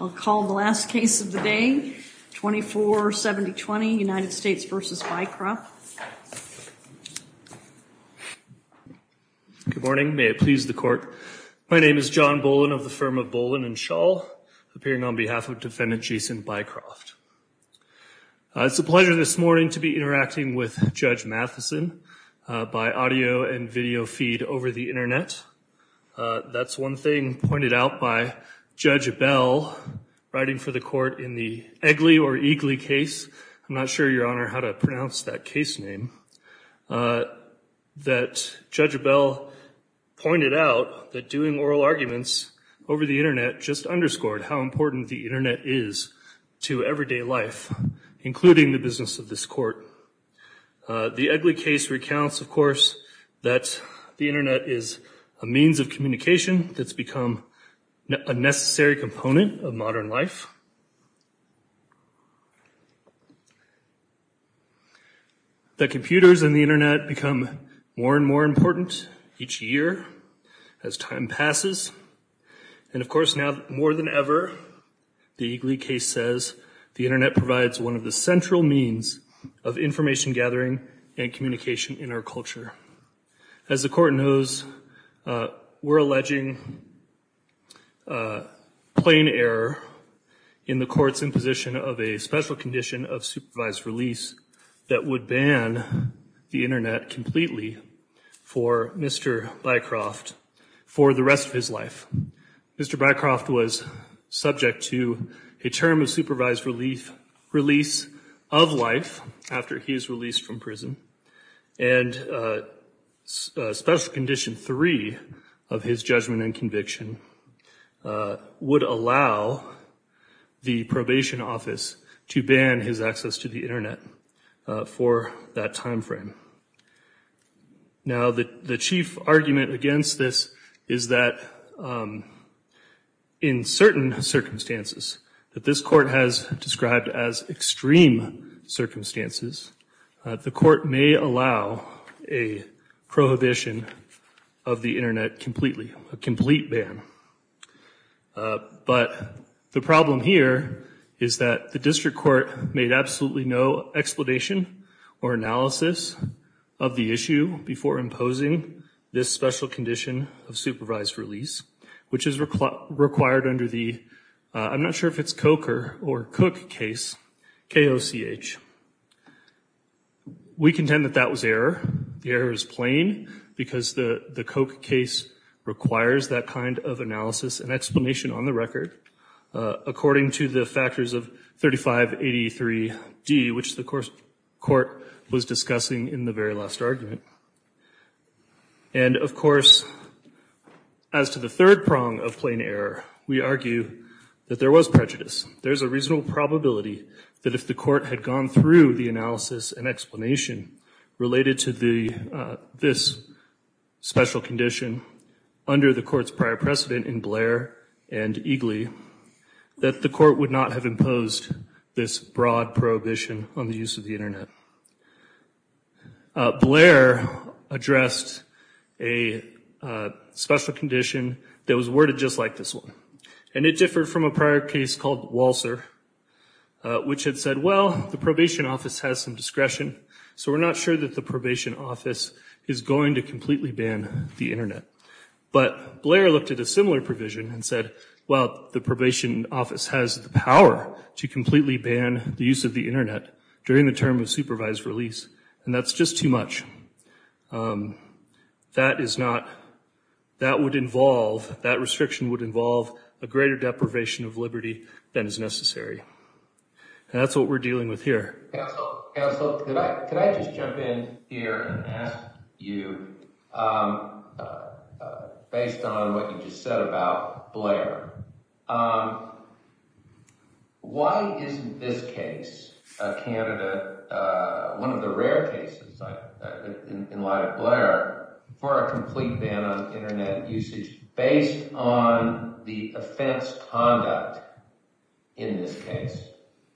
I'll call the last case of the day, 24-70-20, United States v. Bycroft. Good morning. May it please the court. My name is John Bolin of the firm of Bolin and Schall, appearing on behalf of defendant Jason Bycroft. It's a pleasure this morning to be interacting with Judge Matheson by audio and video feed over the internet. That's one thing pointed out by Judge Abell, writing for the court in the Egley or Eagley case, I'm not sure, Your Honor, how to pronounce that case name, that Judge Abell pointed out that doing oral arguments over the internet just underscored how important the internet is to everyday life, including the business of this court. The Egley case recounts, of course, that the internet is a means of communication that's become a necessary component of modern life. The computers and the internet become more and more important each year as time passes, and of course, now more than ever, the Eagley case says, the internet provides one of the central means of information gathering and communication in our culture. As the court knows, we're alleging plain error in the court's imposition of a special condition of supervised release that would ban the internet completely for Mr. Bycroft for the rest of his life. Mr. Bycroft was subject to a term of supervised release of life after he was released from prison, and special condition three of his judgment and conviction would allow the probation office to ban his access to the internet for that timeframe. Now, the chief argument against this is that in certain circumstances, that this court has described as extreme circumstances, the court may allow a prohibition of the internet completely, a complete ban, but the problem here is that the district court made absolutely no explanation or analysis of the issue before imposing this special condition of supervised release, which is required under the, I'm not sure if it's Coker or Cook case, K-O-C-H. We contend that that was error. The error is plain because the Coke case requires that kind of analysis and explanation on the record, according to the factors of 3583D, which the court was discussing in the very last argument, and of course, as to the third prong of plain error, we argue that there was prejudice. There's a reasonable probability that if the court had gone through the analysis and explanation related to this special condition under the court's prior precedent in Blair and Eagley, that the court would not have imposed this broad prohibition on the use of the internet. Blair addressed a special condition that was worded just like this one, and it differed from a prior case called Walser, which had said, well, the probation office has some discretion, so we're not sure that the probation office is going to completely ban the internet. But Blair looked at a similar provision and said, well, the probation office has the power to completely ban the use of the internet during the term of supervised release, and that's just too much. That is not, that would involve, that restriction would involve a greater deprivation of liberty than is necessary. And that's what we're dealing with here. Counsel, could I just jump in here and ask you, based on what you just said about Blair, why isn't this case a candidate, one of the rare cases in light of Blair, for a complete ban on internet usage based on the offense conduct in this case?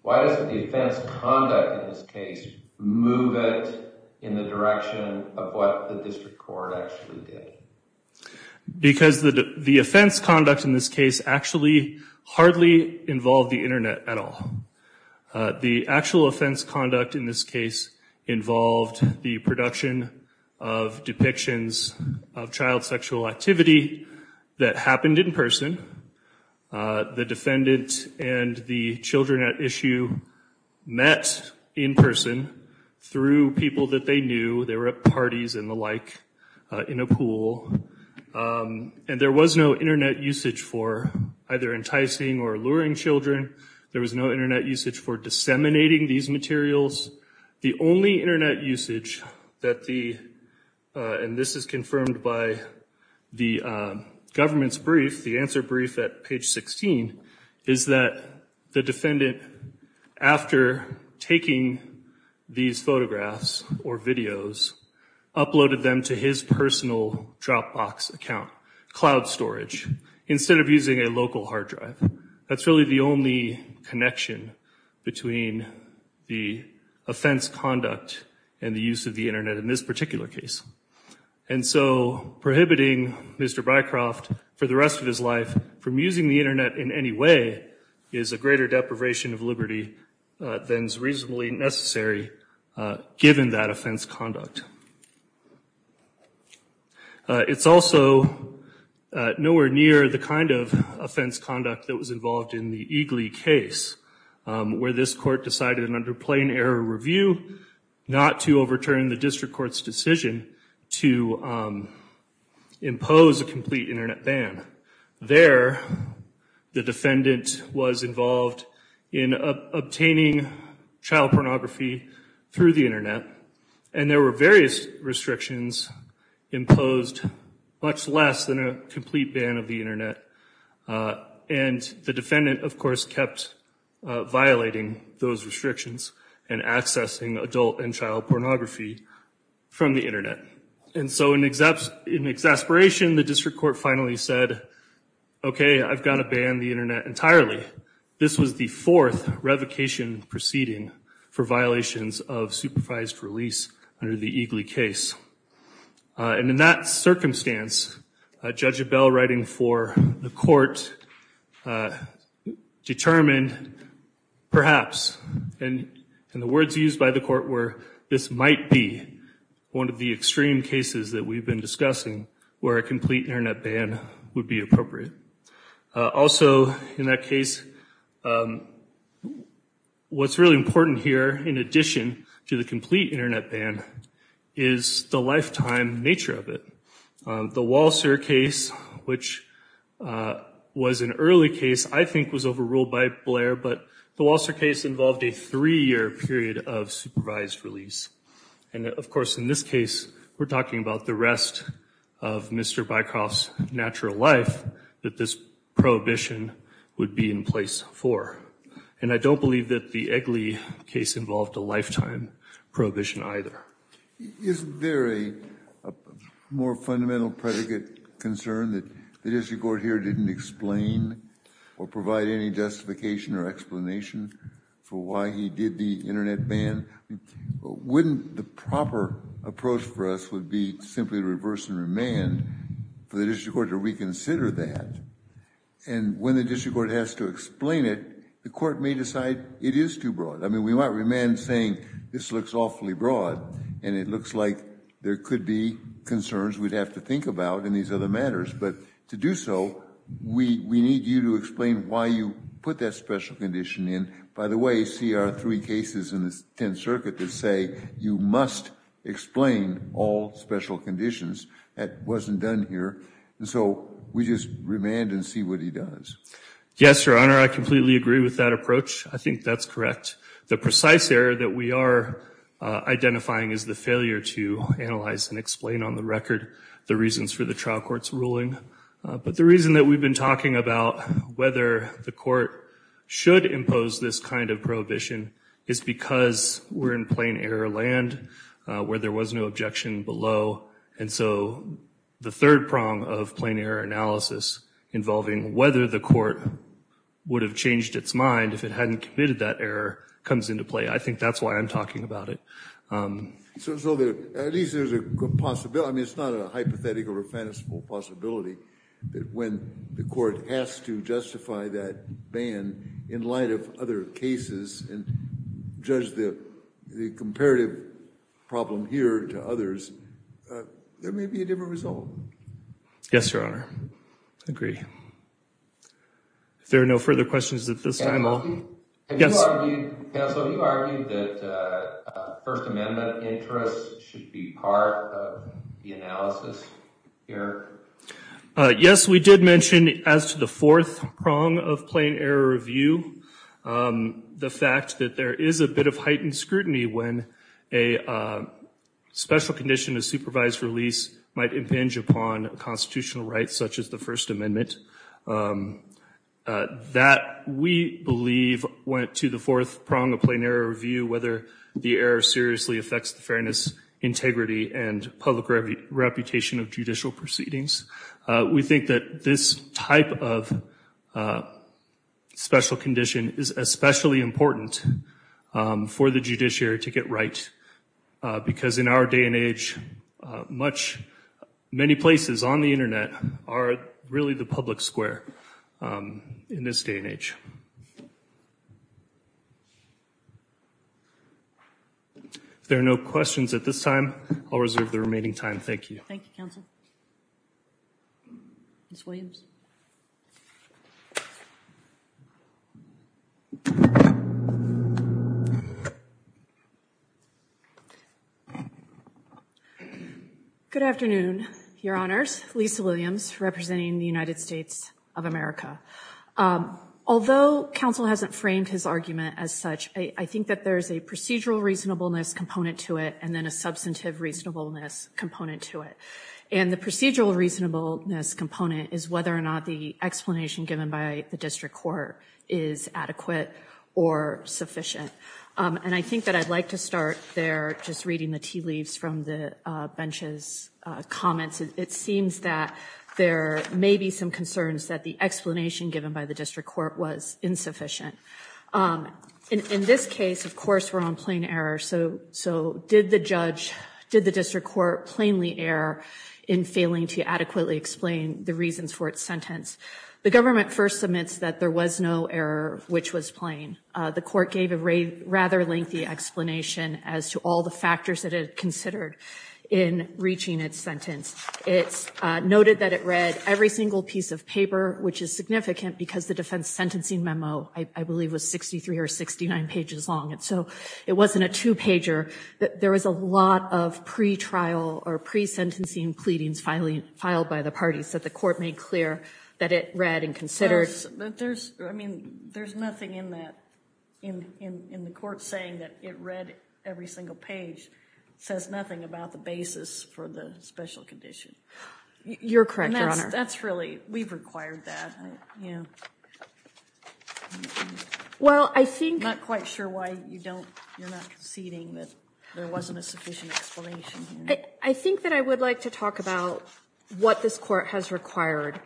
Why doesn't the offense conduct in this case move it in the direction of what the district court actually did? Because the offense conduct in this case actually hardly involved the internet at all. The actual offense conduct in this case involved the production of depictions of child sexual activity that happened in person. The defendant and the children at issue met in person through people that they knew, they were at parties and the like, in a pool, and there was no internet usage for either enticing or luring children. There was no internet usage for disseminating these materials. The only internet usage that the, and this is confirmed by the government's brief, the answer brief at page 16, is that the defendant, after taking these photographs or videos, uploaded them to his personal Dropbox account, cloud storage, instead of using a local hard drive. That's really the only connection between the offense conduct and the use of the internet in this particular case. And so prohibiting Mr. Bycroft for the rest of his life from using the internet in any way is a greater deprivation of liberty than is reasonably necessary given that offense conduct. It's also nowhere near the kind of offense conduct that was involved in the Eagley case, where this court decided under plain error review, not to overturn the district court's decision to impose a complete internet ban. There, the defendant was involved in obtaining child pornography through the internet, and there were various restrictions imposed, much less than a complete ban of the internet. And the defendant, of course, kept violating those restrictions and accessing adult and child pornography from the internet. And so in exasperation, the district court finally said, okay, I've got to ban the internet entirely. This was the fourth revocation proceeding for violations of supervised release under the Eagley case. And in that circumstance, Judge Abell, writing for the court, determined perhaps, and the words used by the court were, this might be one of the extreme cases that we've been discussing where a complete internet ban would be appropriate. Also, in that case, what's really important here, in addition to the complete internet ban, is the lifetime nature of it. The Walser case, which was an early case, I think was overruled by Blair, but the Walser case involved a three-year period of supervised release. And of course, in this case, we're talking about the rest of Mr. Bycroft's natural life that this prohibition would be in place for. And I don't believe that the Eagley case involved a lifetime prohibition either. Is there a more fundamental predicate concern that the district court here didn't explain or provide any justification or explanation for why he did the internet ban? Wouldn't the proper approach for us would be simply to reverse and remand for the district court to reconsider that? And when the district court has to explain it, the court may decide it is too broad. I mean, we might remand saying this looks awfully broad and it looks like there could be concerns we'd have to think about in these other matters. But to do so, we need you to explain why you put that special condition in. By the way, see our three cases in the 10th Circuit that say you must explain all special conditions. That wasn't done here. And so we just remand and see what he does. Yes, Your Honor, I completely agree with that approach. I think that's correct. The precise error that we are identifying is the failure to analyze and explain on record the reasons for the trial court's ruling. But the reason that we've been talking about whether the court should impose this kind of prohibition is because we're in plain error land where there was no objection below. And so the third prong of plain error analysis involving whether the court would have changed its mind if it hadn't committed that error comes into play. I think that's why I'm talking about it. So at least there's a possibility. I mean, it's not a hypothetical or fanciful possibility that when the court has to justify that ban in light of other cases and judge the comparative problem here to others, there may be a different result. Yes, Your Honor, I agree. If there are no further questions at this time, I'll. Yes, you argued that First Amendment interests should be part of the analysis here. Yes, we did mention as to the fourth prong of plain error review, the fact that there is a bit of heightened scrutiny when a special condition of supervised release might impinge upon constitutional rights such as the First Amendment. That, we believe, went to the fourth prong of plain error review, whether the error seriously affects the fairness, integrity and public reputation of judicial proceedings. We think that this type of special condition is especially important for the judiciary to get right, because in our day and age, many places on the Internet are really the public square in this day and age. If there are no questions at this time, I'll reserve the remaining time. Thank you. Thank you, counsel. Ms. Williams. Good afternoon, Your Honors, Lisa Williams, representing the United States of America. Although counsel hasn't framed his argument as such, I think that there's a procedural reasonableness component to it and then a substantive reasonableness component to it. And the procedural reasonableness component is whether or not the explanation given by the district court is adequate or sufficient. And I think that I'd like to start there, just reading the tea leaves from the bench's comments. It seems that there may be some concerns that the explanation given by the district court was insufficient. In this case, of course, we're on plain error. So did the judge, did the district court, plainly err in failing to adequately explain the reasons for its sentence? The government first submits that there was no error, which was plain. The court gave a rather lengthy explanation as to all the factors that it considered in reaching its sentence. It's noted that it read every single piece of paper, which is significant because the defense sentencing memo, I believe, was 63 or 69 pages long. And so it wasn't a two pager. There was a lot of pre-trial or pre-sentencing pleadings finally filed by the parties that the court made clear that it read and considered. But there's, I mean, there's nothing in that, in the court saying that it read every single page, says nothing about the basis for the special condition. You're correct, Your Honor. That's really, we've required that. Well, I think. I'm not quite sure why you don't, you're not conceding that there wasn't a sufficient explanation here. I think that I would like to talk about what this court has required.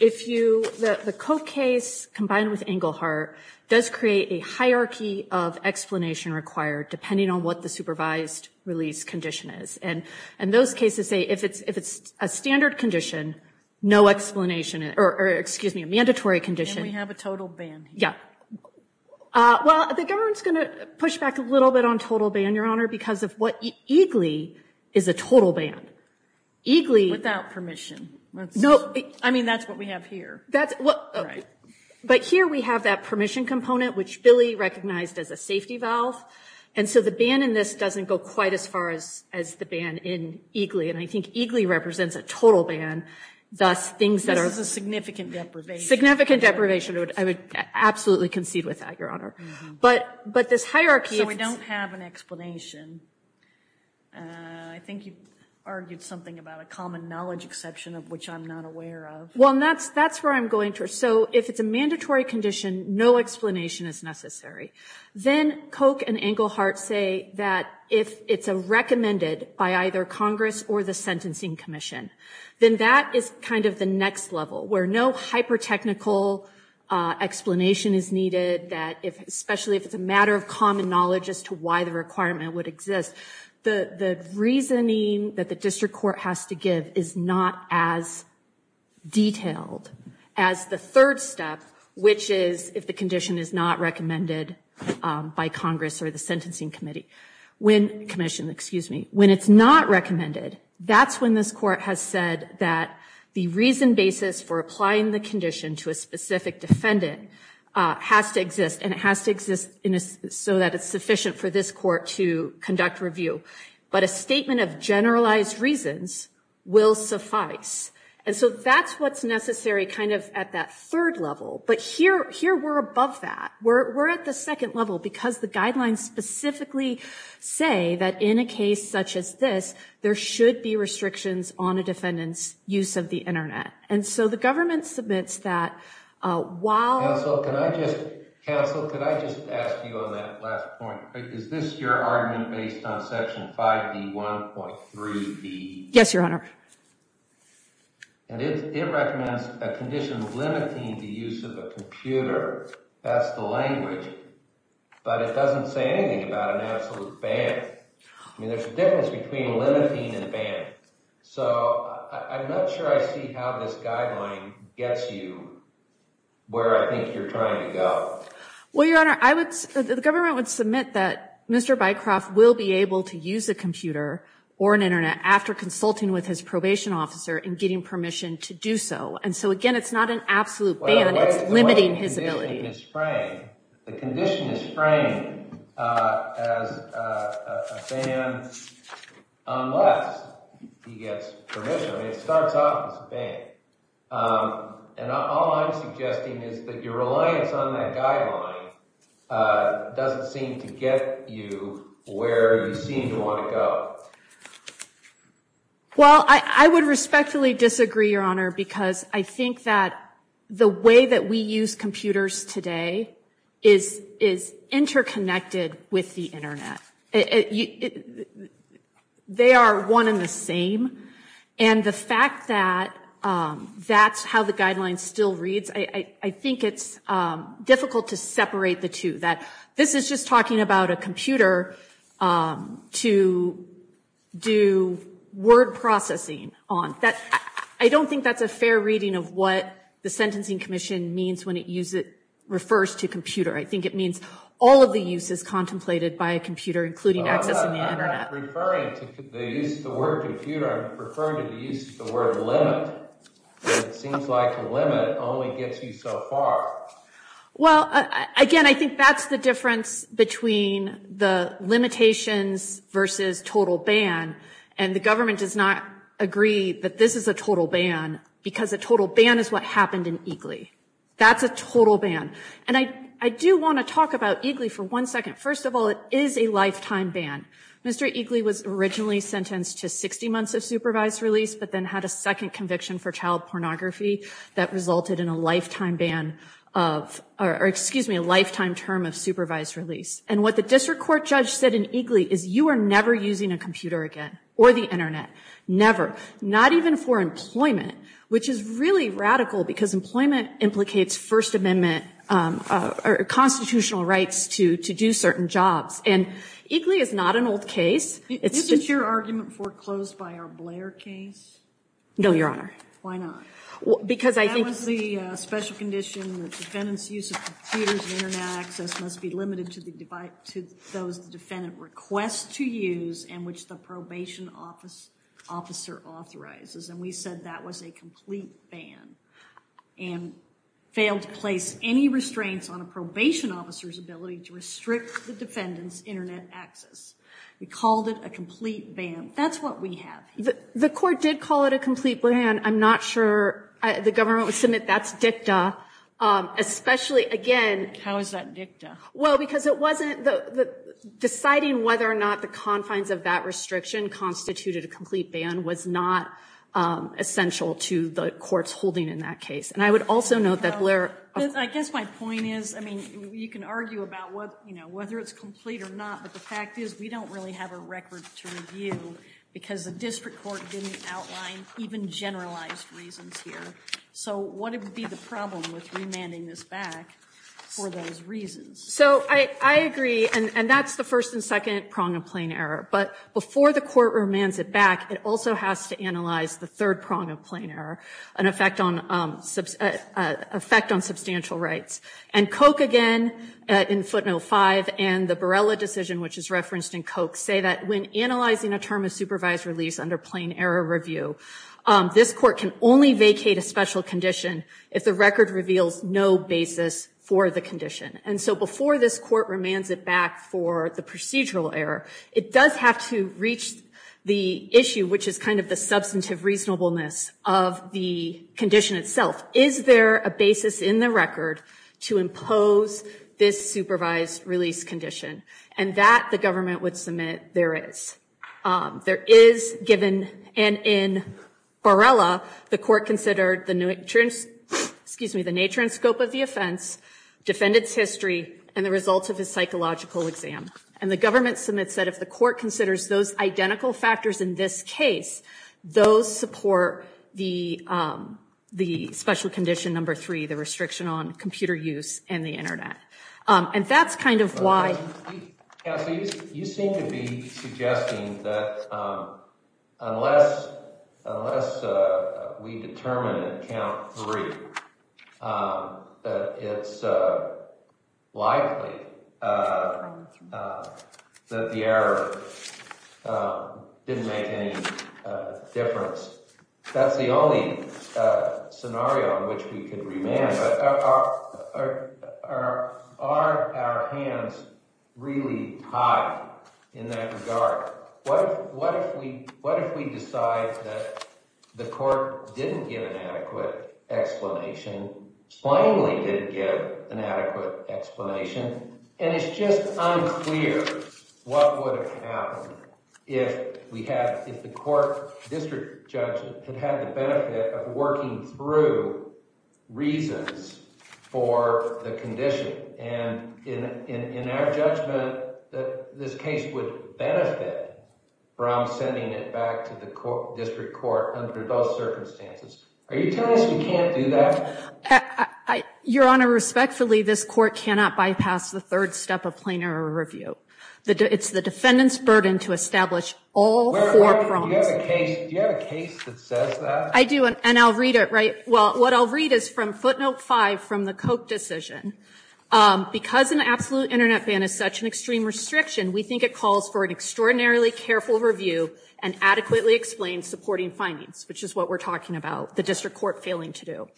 If you, the Koch case combined with Engelhardt does create a hierarchy of explanation required depending on what the supervised release condition is. And those cases say, if it's a standard condition, no explanation, or excuse me, a mandatory condition. We have a total ban. Yeah. Well, the government's going to push back a little bit on total ban, Your Honor, because of what EGLEE is a total ban. EGLEE. Without permission. No. I mean, that's what we have here. That's what, but here we have that permission component, which Billy recognized as a safety valve. And so the ban in this doesn't go quite as far as, as the ban in EGLEE. And I think EGLEE represents a total ban. Thus things that are. This is a significant deprivation. Significant deprivation. I would absolutely concede with that, Your Honor. But, but this hierarchy. So we don't have an explanation. I think you argued something about a common knowledge exception of which I'm not aware of. Well, that's, that's where I'm going to. So if it's a mandatory condition, no explanation is necessary. Then Koch and Engelhardt say that if it's a recommended by either Congress or the Sentencing Commission, then that is kind of the next level where no hyper-technical explanation is needed. That if, especially if it's a matter of common knowledge as to why the requirement would exist, the, the reasoning that the district court has to give is not as detailed as the third step, which is if the condition is not recommended by Congress or the Sentencing Committee. When, Commission, excuse me, when it's not recommended, that's when this court has said that the reason basis for applying the condition to a specific defendant has to exist and it has to exist in a, so that it's sufficient for this court to conduct review. But a statement of generalized reasons will suffice. And so that's what's necessary kind of at that third level. But here, here we're above that. We're, we're at the second level because the guidelines specifically say that in a case such as this, there should be restrictions on a defendant's use of the internet. And so the government submits that while... Counsel, can I just, counsel, could I just ask you on that last point, is this your argument based on Section 5B1.3b? Yes, Your Honor. And it, it recommends a condition limiting the use of a computer, that's the language, but it doesn't say anything about an absolute ban. I mean, there's a difference between limiting and a ban. So I'm not sure I see how this guideline gets you where I think you're trying to go. Well, Your Honor, I would, the government would submit that Mr. Bycroft will be able to use a computer or an internet after consulting with his probation officer and getting permission to do so. And so again, it's not an absolute ban, it's limiting his ability. The condition is framed, the condition is framed as a ban unless he gets permission. I mean, it starts off as a ban. And all I'm suggesting is that your reliance on that guideline doesn't seem to get you where you seem to want to go. Well, I would respectfully disagree, Your Honor, because I think that the way that we use computers today is, is interconnected with the internet. They are one in the same. And the fact that that's how the guidelines still reads, I think it's difficult to separate the two, that this is just talking about a computer to do word processing on. That, I don't think that's a fair reading of what the Sentencing Commission means when it use it, refers to computer. I think it means all of the use is contemplated by a computer, including access to the internet. I'm not referring to the use of the word computer, I'm referring to the use of the word limit. It seems like the limit only gets you so far. Well, again, I think that's the difference between the limitations versus total ban. And the government does not agree that this is a total ban because a total ban is what happened in Eagley. That's a total ban. And I do want to talk about Eagley for one second. First of all, it is a lifetime ban. Mr. Eagley was originally sentenced to 60 months of supervised release, but then had a second conviction for child pornography that resulted in a lifetime ban of, or excuse me, a lifetime term of supervised release. And what the district court judge said in Eagley is you are never using a computer again or the internet. Never. Not even for employment, which is really radical because employment implicates First Amendment or constitutional rights to do certain jobs. And Eagley is not an old case. Isn't your argument foreclosed by our Blair case? No, Your Honor. Why not? Because I think. That was the special condition that defendants use of computers and internet access must be limited to those the defendant requests to use and which the probation officer authorizes. And we said that was a complete ban and failed to place any restraints on a probation officer's ability to restrict the defendant's internet access. We called it a complete ban. That's what we have. The court did call it a complete ban. I'm not sure the government would submit that's dicta, especially again. How is that dicta? Well, because it wasn't the deciding whether or not the confines of that restriction constituted a complete ban was not essential to the court's holding in that case. And I would also note that Blair. I guess my point is, I mean, you can argue about what, you know, whether it's complete or not, but the fact is we don't really have a record to review because the district court didn't outline even generalized reasons here. So what would be the problem with remanding this back for those reasons? So I agree. And that's the first and second prong of plain error. But before the court remands it back, it also has to analyze the third prong of plain error, an effect on substantial rights. And Koch again in footnote 5 and the Barella decision, which is referenced in Koch, say that when analyzing a term of supervised release under plain error review, this court can only vacate a special condition if the record reveals no basis for the condition. And so before this court remands it back for the procedural error, it does have to reach the issue, which is kind of the substantive reasonableness of the condition itself. Is there a basis in the record to impose this supervised release condition? And that the government would submit there is. There is given, and in Barella, the court considered the nature, excuse me, the nature and scope of the offense, defendant's history and the results of his psychological exam. And the government submits that if the court considers those identical factors in this case, those support the the special condition number three, the restriction on computer use and the Internet. And that's kind of why you seem to be suggesting that unless unless we determine that count three, it's likely that the error didn't make any difference. That's the only scenario in which we can remand our our our hands really high in that regard. What if what if we what if we decide that the court didn't get an adequate explanation, finally didn't get an adequate explanation? And it's just unclear what would have happened if we had if the court district judge had had the benefit of working through reasons for the condition and in our judgment that this case would benefit from sending it back to the district court under those circumstances. Are you telling us you can't do that? I, Your Honor, respectfully, this court cannot bypass the third step of plain error review. It's the defendant's burden to establish all four prongs. Do you have a case that says that? I do. And I'll read it right. Well, what I'll read is from footnote five from the Koch decision. Because an absolute Internet ban is such an extreme restriction, we think it calls for an extraordinarily careful review and adequately explained supporting findings, which is what we're talking about. The district court failing to do.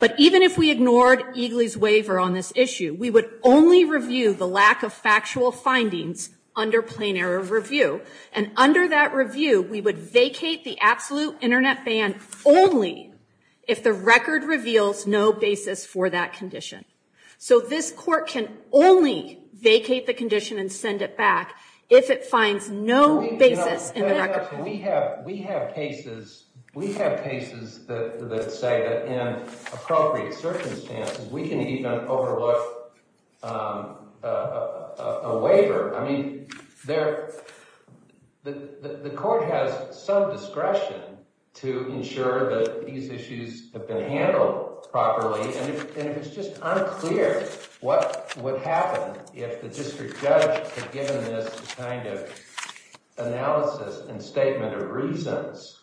But even if we ignored Eagley's waiver on this issue, we would only review the lack of factual findings under plain error review. And under that review, we would vacate the absolute Internet ban only if the record reveals no basis for that condition. So this court can only vacate the condition and send it back if it finds no basis in We have we have cases, we have cases that say that in appropriate circumstances, we can even overlook a waiver. I mean, there the court has some discretion to ensure that these issues have been handled properly. And if it's just unclear what would happen if the district judge had given this kind of analysis and statement of reasons,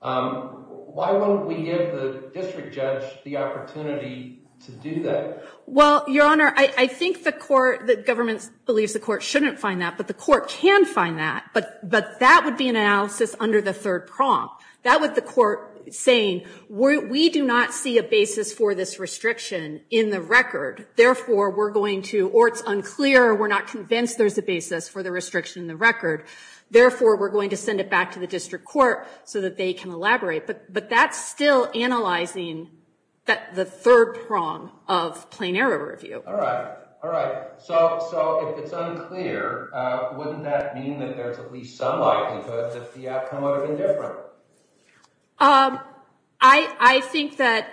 why wouldn't we give the district judge the opportunity to do that? Well, Your Honor, I think the court, the government believes the court shouldn't find that, but the court can find that. But but that would be an analysis under the third prompt that with the court saying we do not see a basis for this restriction in the record. Therefore, we're going to or it's unclear. We're not convinced there's a basis for the restriction in the record. Therefore, we're going to send it back to the district court so that they can elaborate. But but that's still analyzing that the third prong of plain error review. All right. All right. So so if it's unclear, wouldn't that mean that there's at least some likelihood that the outcome would have been different? Um, I think that.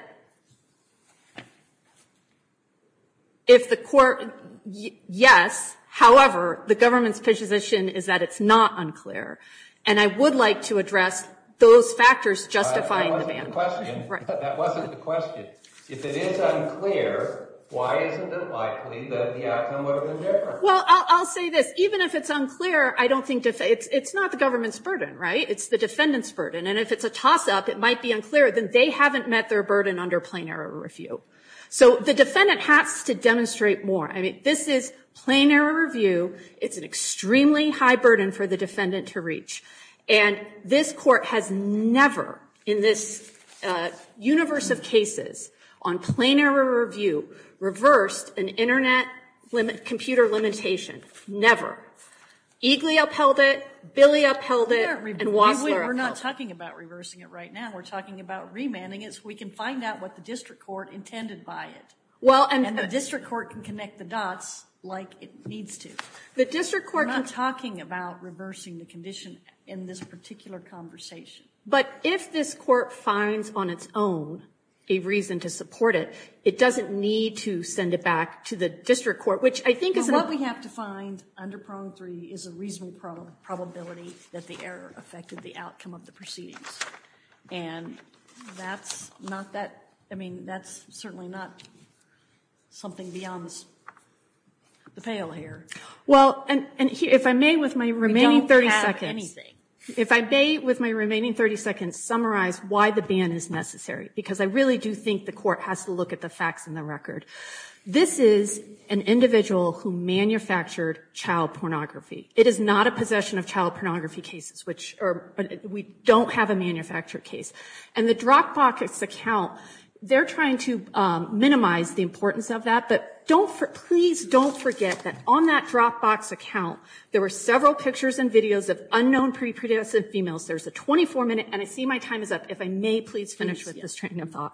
If the court, yes, however, the government's position is that it's not unclear, and I would like to address those factors justifying the ban. That wasn't the question. If it is unclear, why isn't it likely that the outcome would have been different? Well, I'll say this. Even if it's unclear, I don't think it's not the government's burden, right? It's the defendant's burden. And if it's a toss up, it might be unclear that they haven't met their burden under plain error review. So the defendant has to demonstrate more. I mean, this is plain error review. It's an extremely high burden for the defendant to reach. And this court has never in this universe of cases on plain error review reversed an Internet computer limitation. Never. Eagley upheld it, Billy upheld it, and Wassler upheld it. We're not talking about reversing it right now. We're talking about remanding it so we can find out what the district court intended by it. Well, and the district court can connect the dots like it needs to. The district court can talk about reversing the condition in this particular conversation. But if this court finds on its own a reason to support it, it doesn't need to send it back to the district court, which I think is. What we have to find under prong three is a reasonable probability that the error affected the outcome of the proceedings. And that's not that. I mean, that's certainly not something beyond the pale hair. Well, and if I may, with my remaining 30 seconds, if I may, with my remaining 30 seconds, summarize why the ban is necessary, because I really do think the court has to look at the facts and the record. This is an individual who manufactured child pornography. It is not a possession of child pornography cases, which we don't have a manufactured case. And the Dropbox account, they're trying to minimize the importance of that. But please don't forget that on that Dropbox account, there were several pictures and videos of unknown pre-produced females. There's a 24 minute. And I see my time is up. If I may, please finish with this train of thought.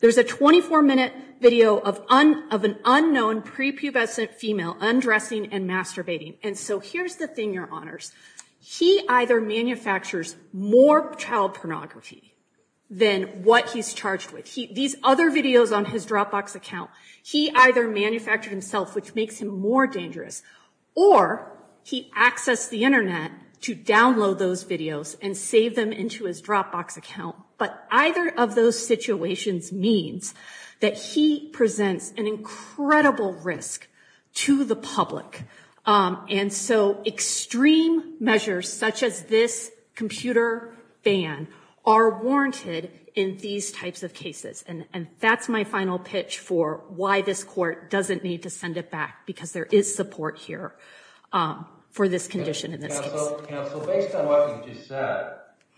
There's a 24 minute video of an unknown prepubescent female undressing and masturbating. And so here's the thing, your honors. He either manufactures more child pornography than what he's charged with. These other videos on his Dropbox account, he either manufactured himself, which makes him more dangerous, or he accessed the Internet to download those videos and save them into his Dropbox account. But either of those situations means that he presents an incredible risk to the public. And so extreme measures such as this computer ban are warranted in these types of cases. And that's my final pitch for why this court doesn't need to send it back, because there is support here for this condition. Counsel, based on what you just said,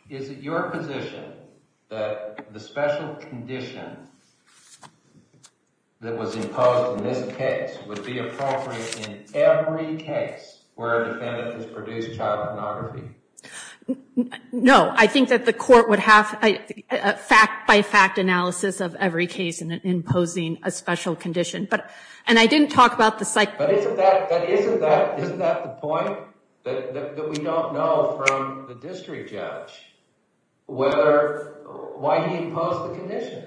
is it your position that the special condition that was imposed in this case would be appropriate in every case where a defendant has produced child pornography? No, I think that the court would have a fact by fact analysis of every case and imposing a special condition. But and I didn't talk about the cycle. But isn't that isn't that isn't that the point that we don't know from the district judge, whether why he imposed the condition?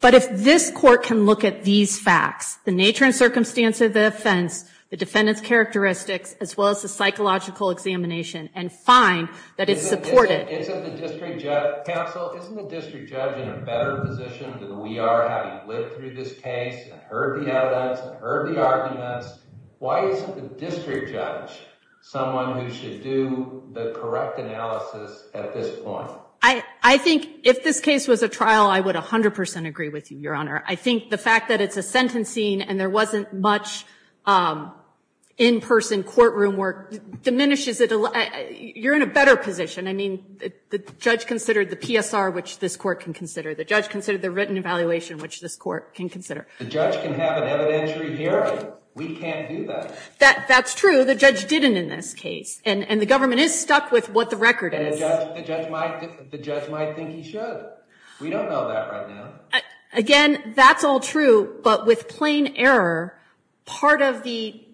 But if this court can look at these facts, the nature and circumstance of the offense, the defendant's characteristics, as well as the psychological examination and find that it's supported. Isn't the district judge, counsel, isn't the district judge in a better position than we are having lived through this case and heard the evidence and heard the arguments? Why isn't the district judge someone who should do the correct analysis at this point? I think if this case was a trial, I would 100 percent agree with you, Your Honor. I think the fact that it's a sentencing and there wasn't much in-person courtroom work diminishes it. You're in a better position. I mean, the judge considered the PSR, which this court can consider. The judge considered the written evaluation, which this court can consider. The judge can have an evidentiary hearing. We can't do that. That's true. The judge didn't in this case. And the government is stuck with what the record is. The judge might think he should. We don't know that right now. Again, that's all true. But with plain error, part of the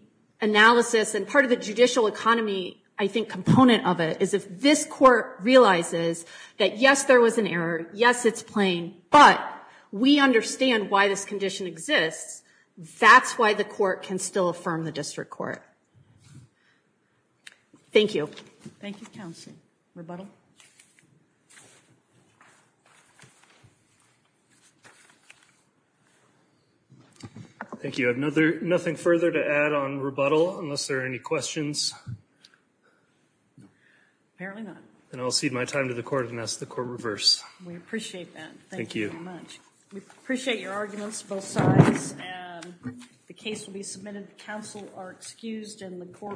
analysis and part of the judicial economy, I think But we understand why this condition exists. That's why the court can still affirm the district court. Thank you. Thank you, counsel. Rebuttal. Thank you. I have nothing further to add on rebuttal unless there are any questions. Apparently not. And I'll cede my time to the court and ask the court reverse. We appreciate that. Thank you so much. We appreciate your arguments, both sides. And the case will be submitted. The counsel are excused and the court.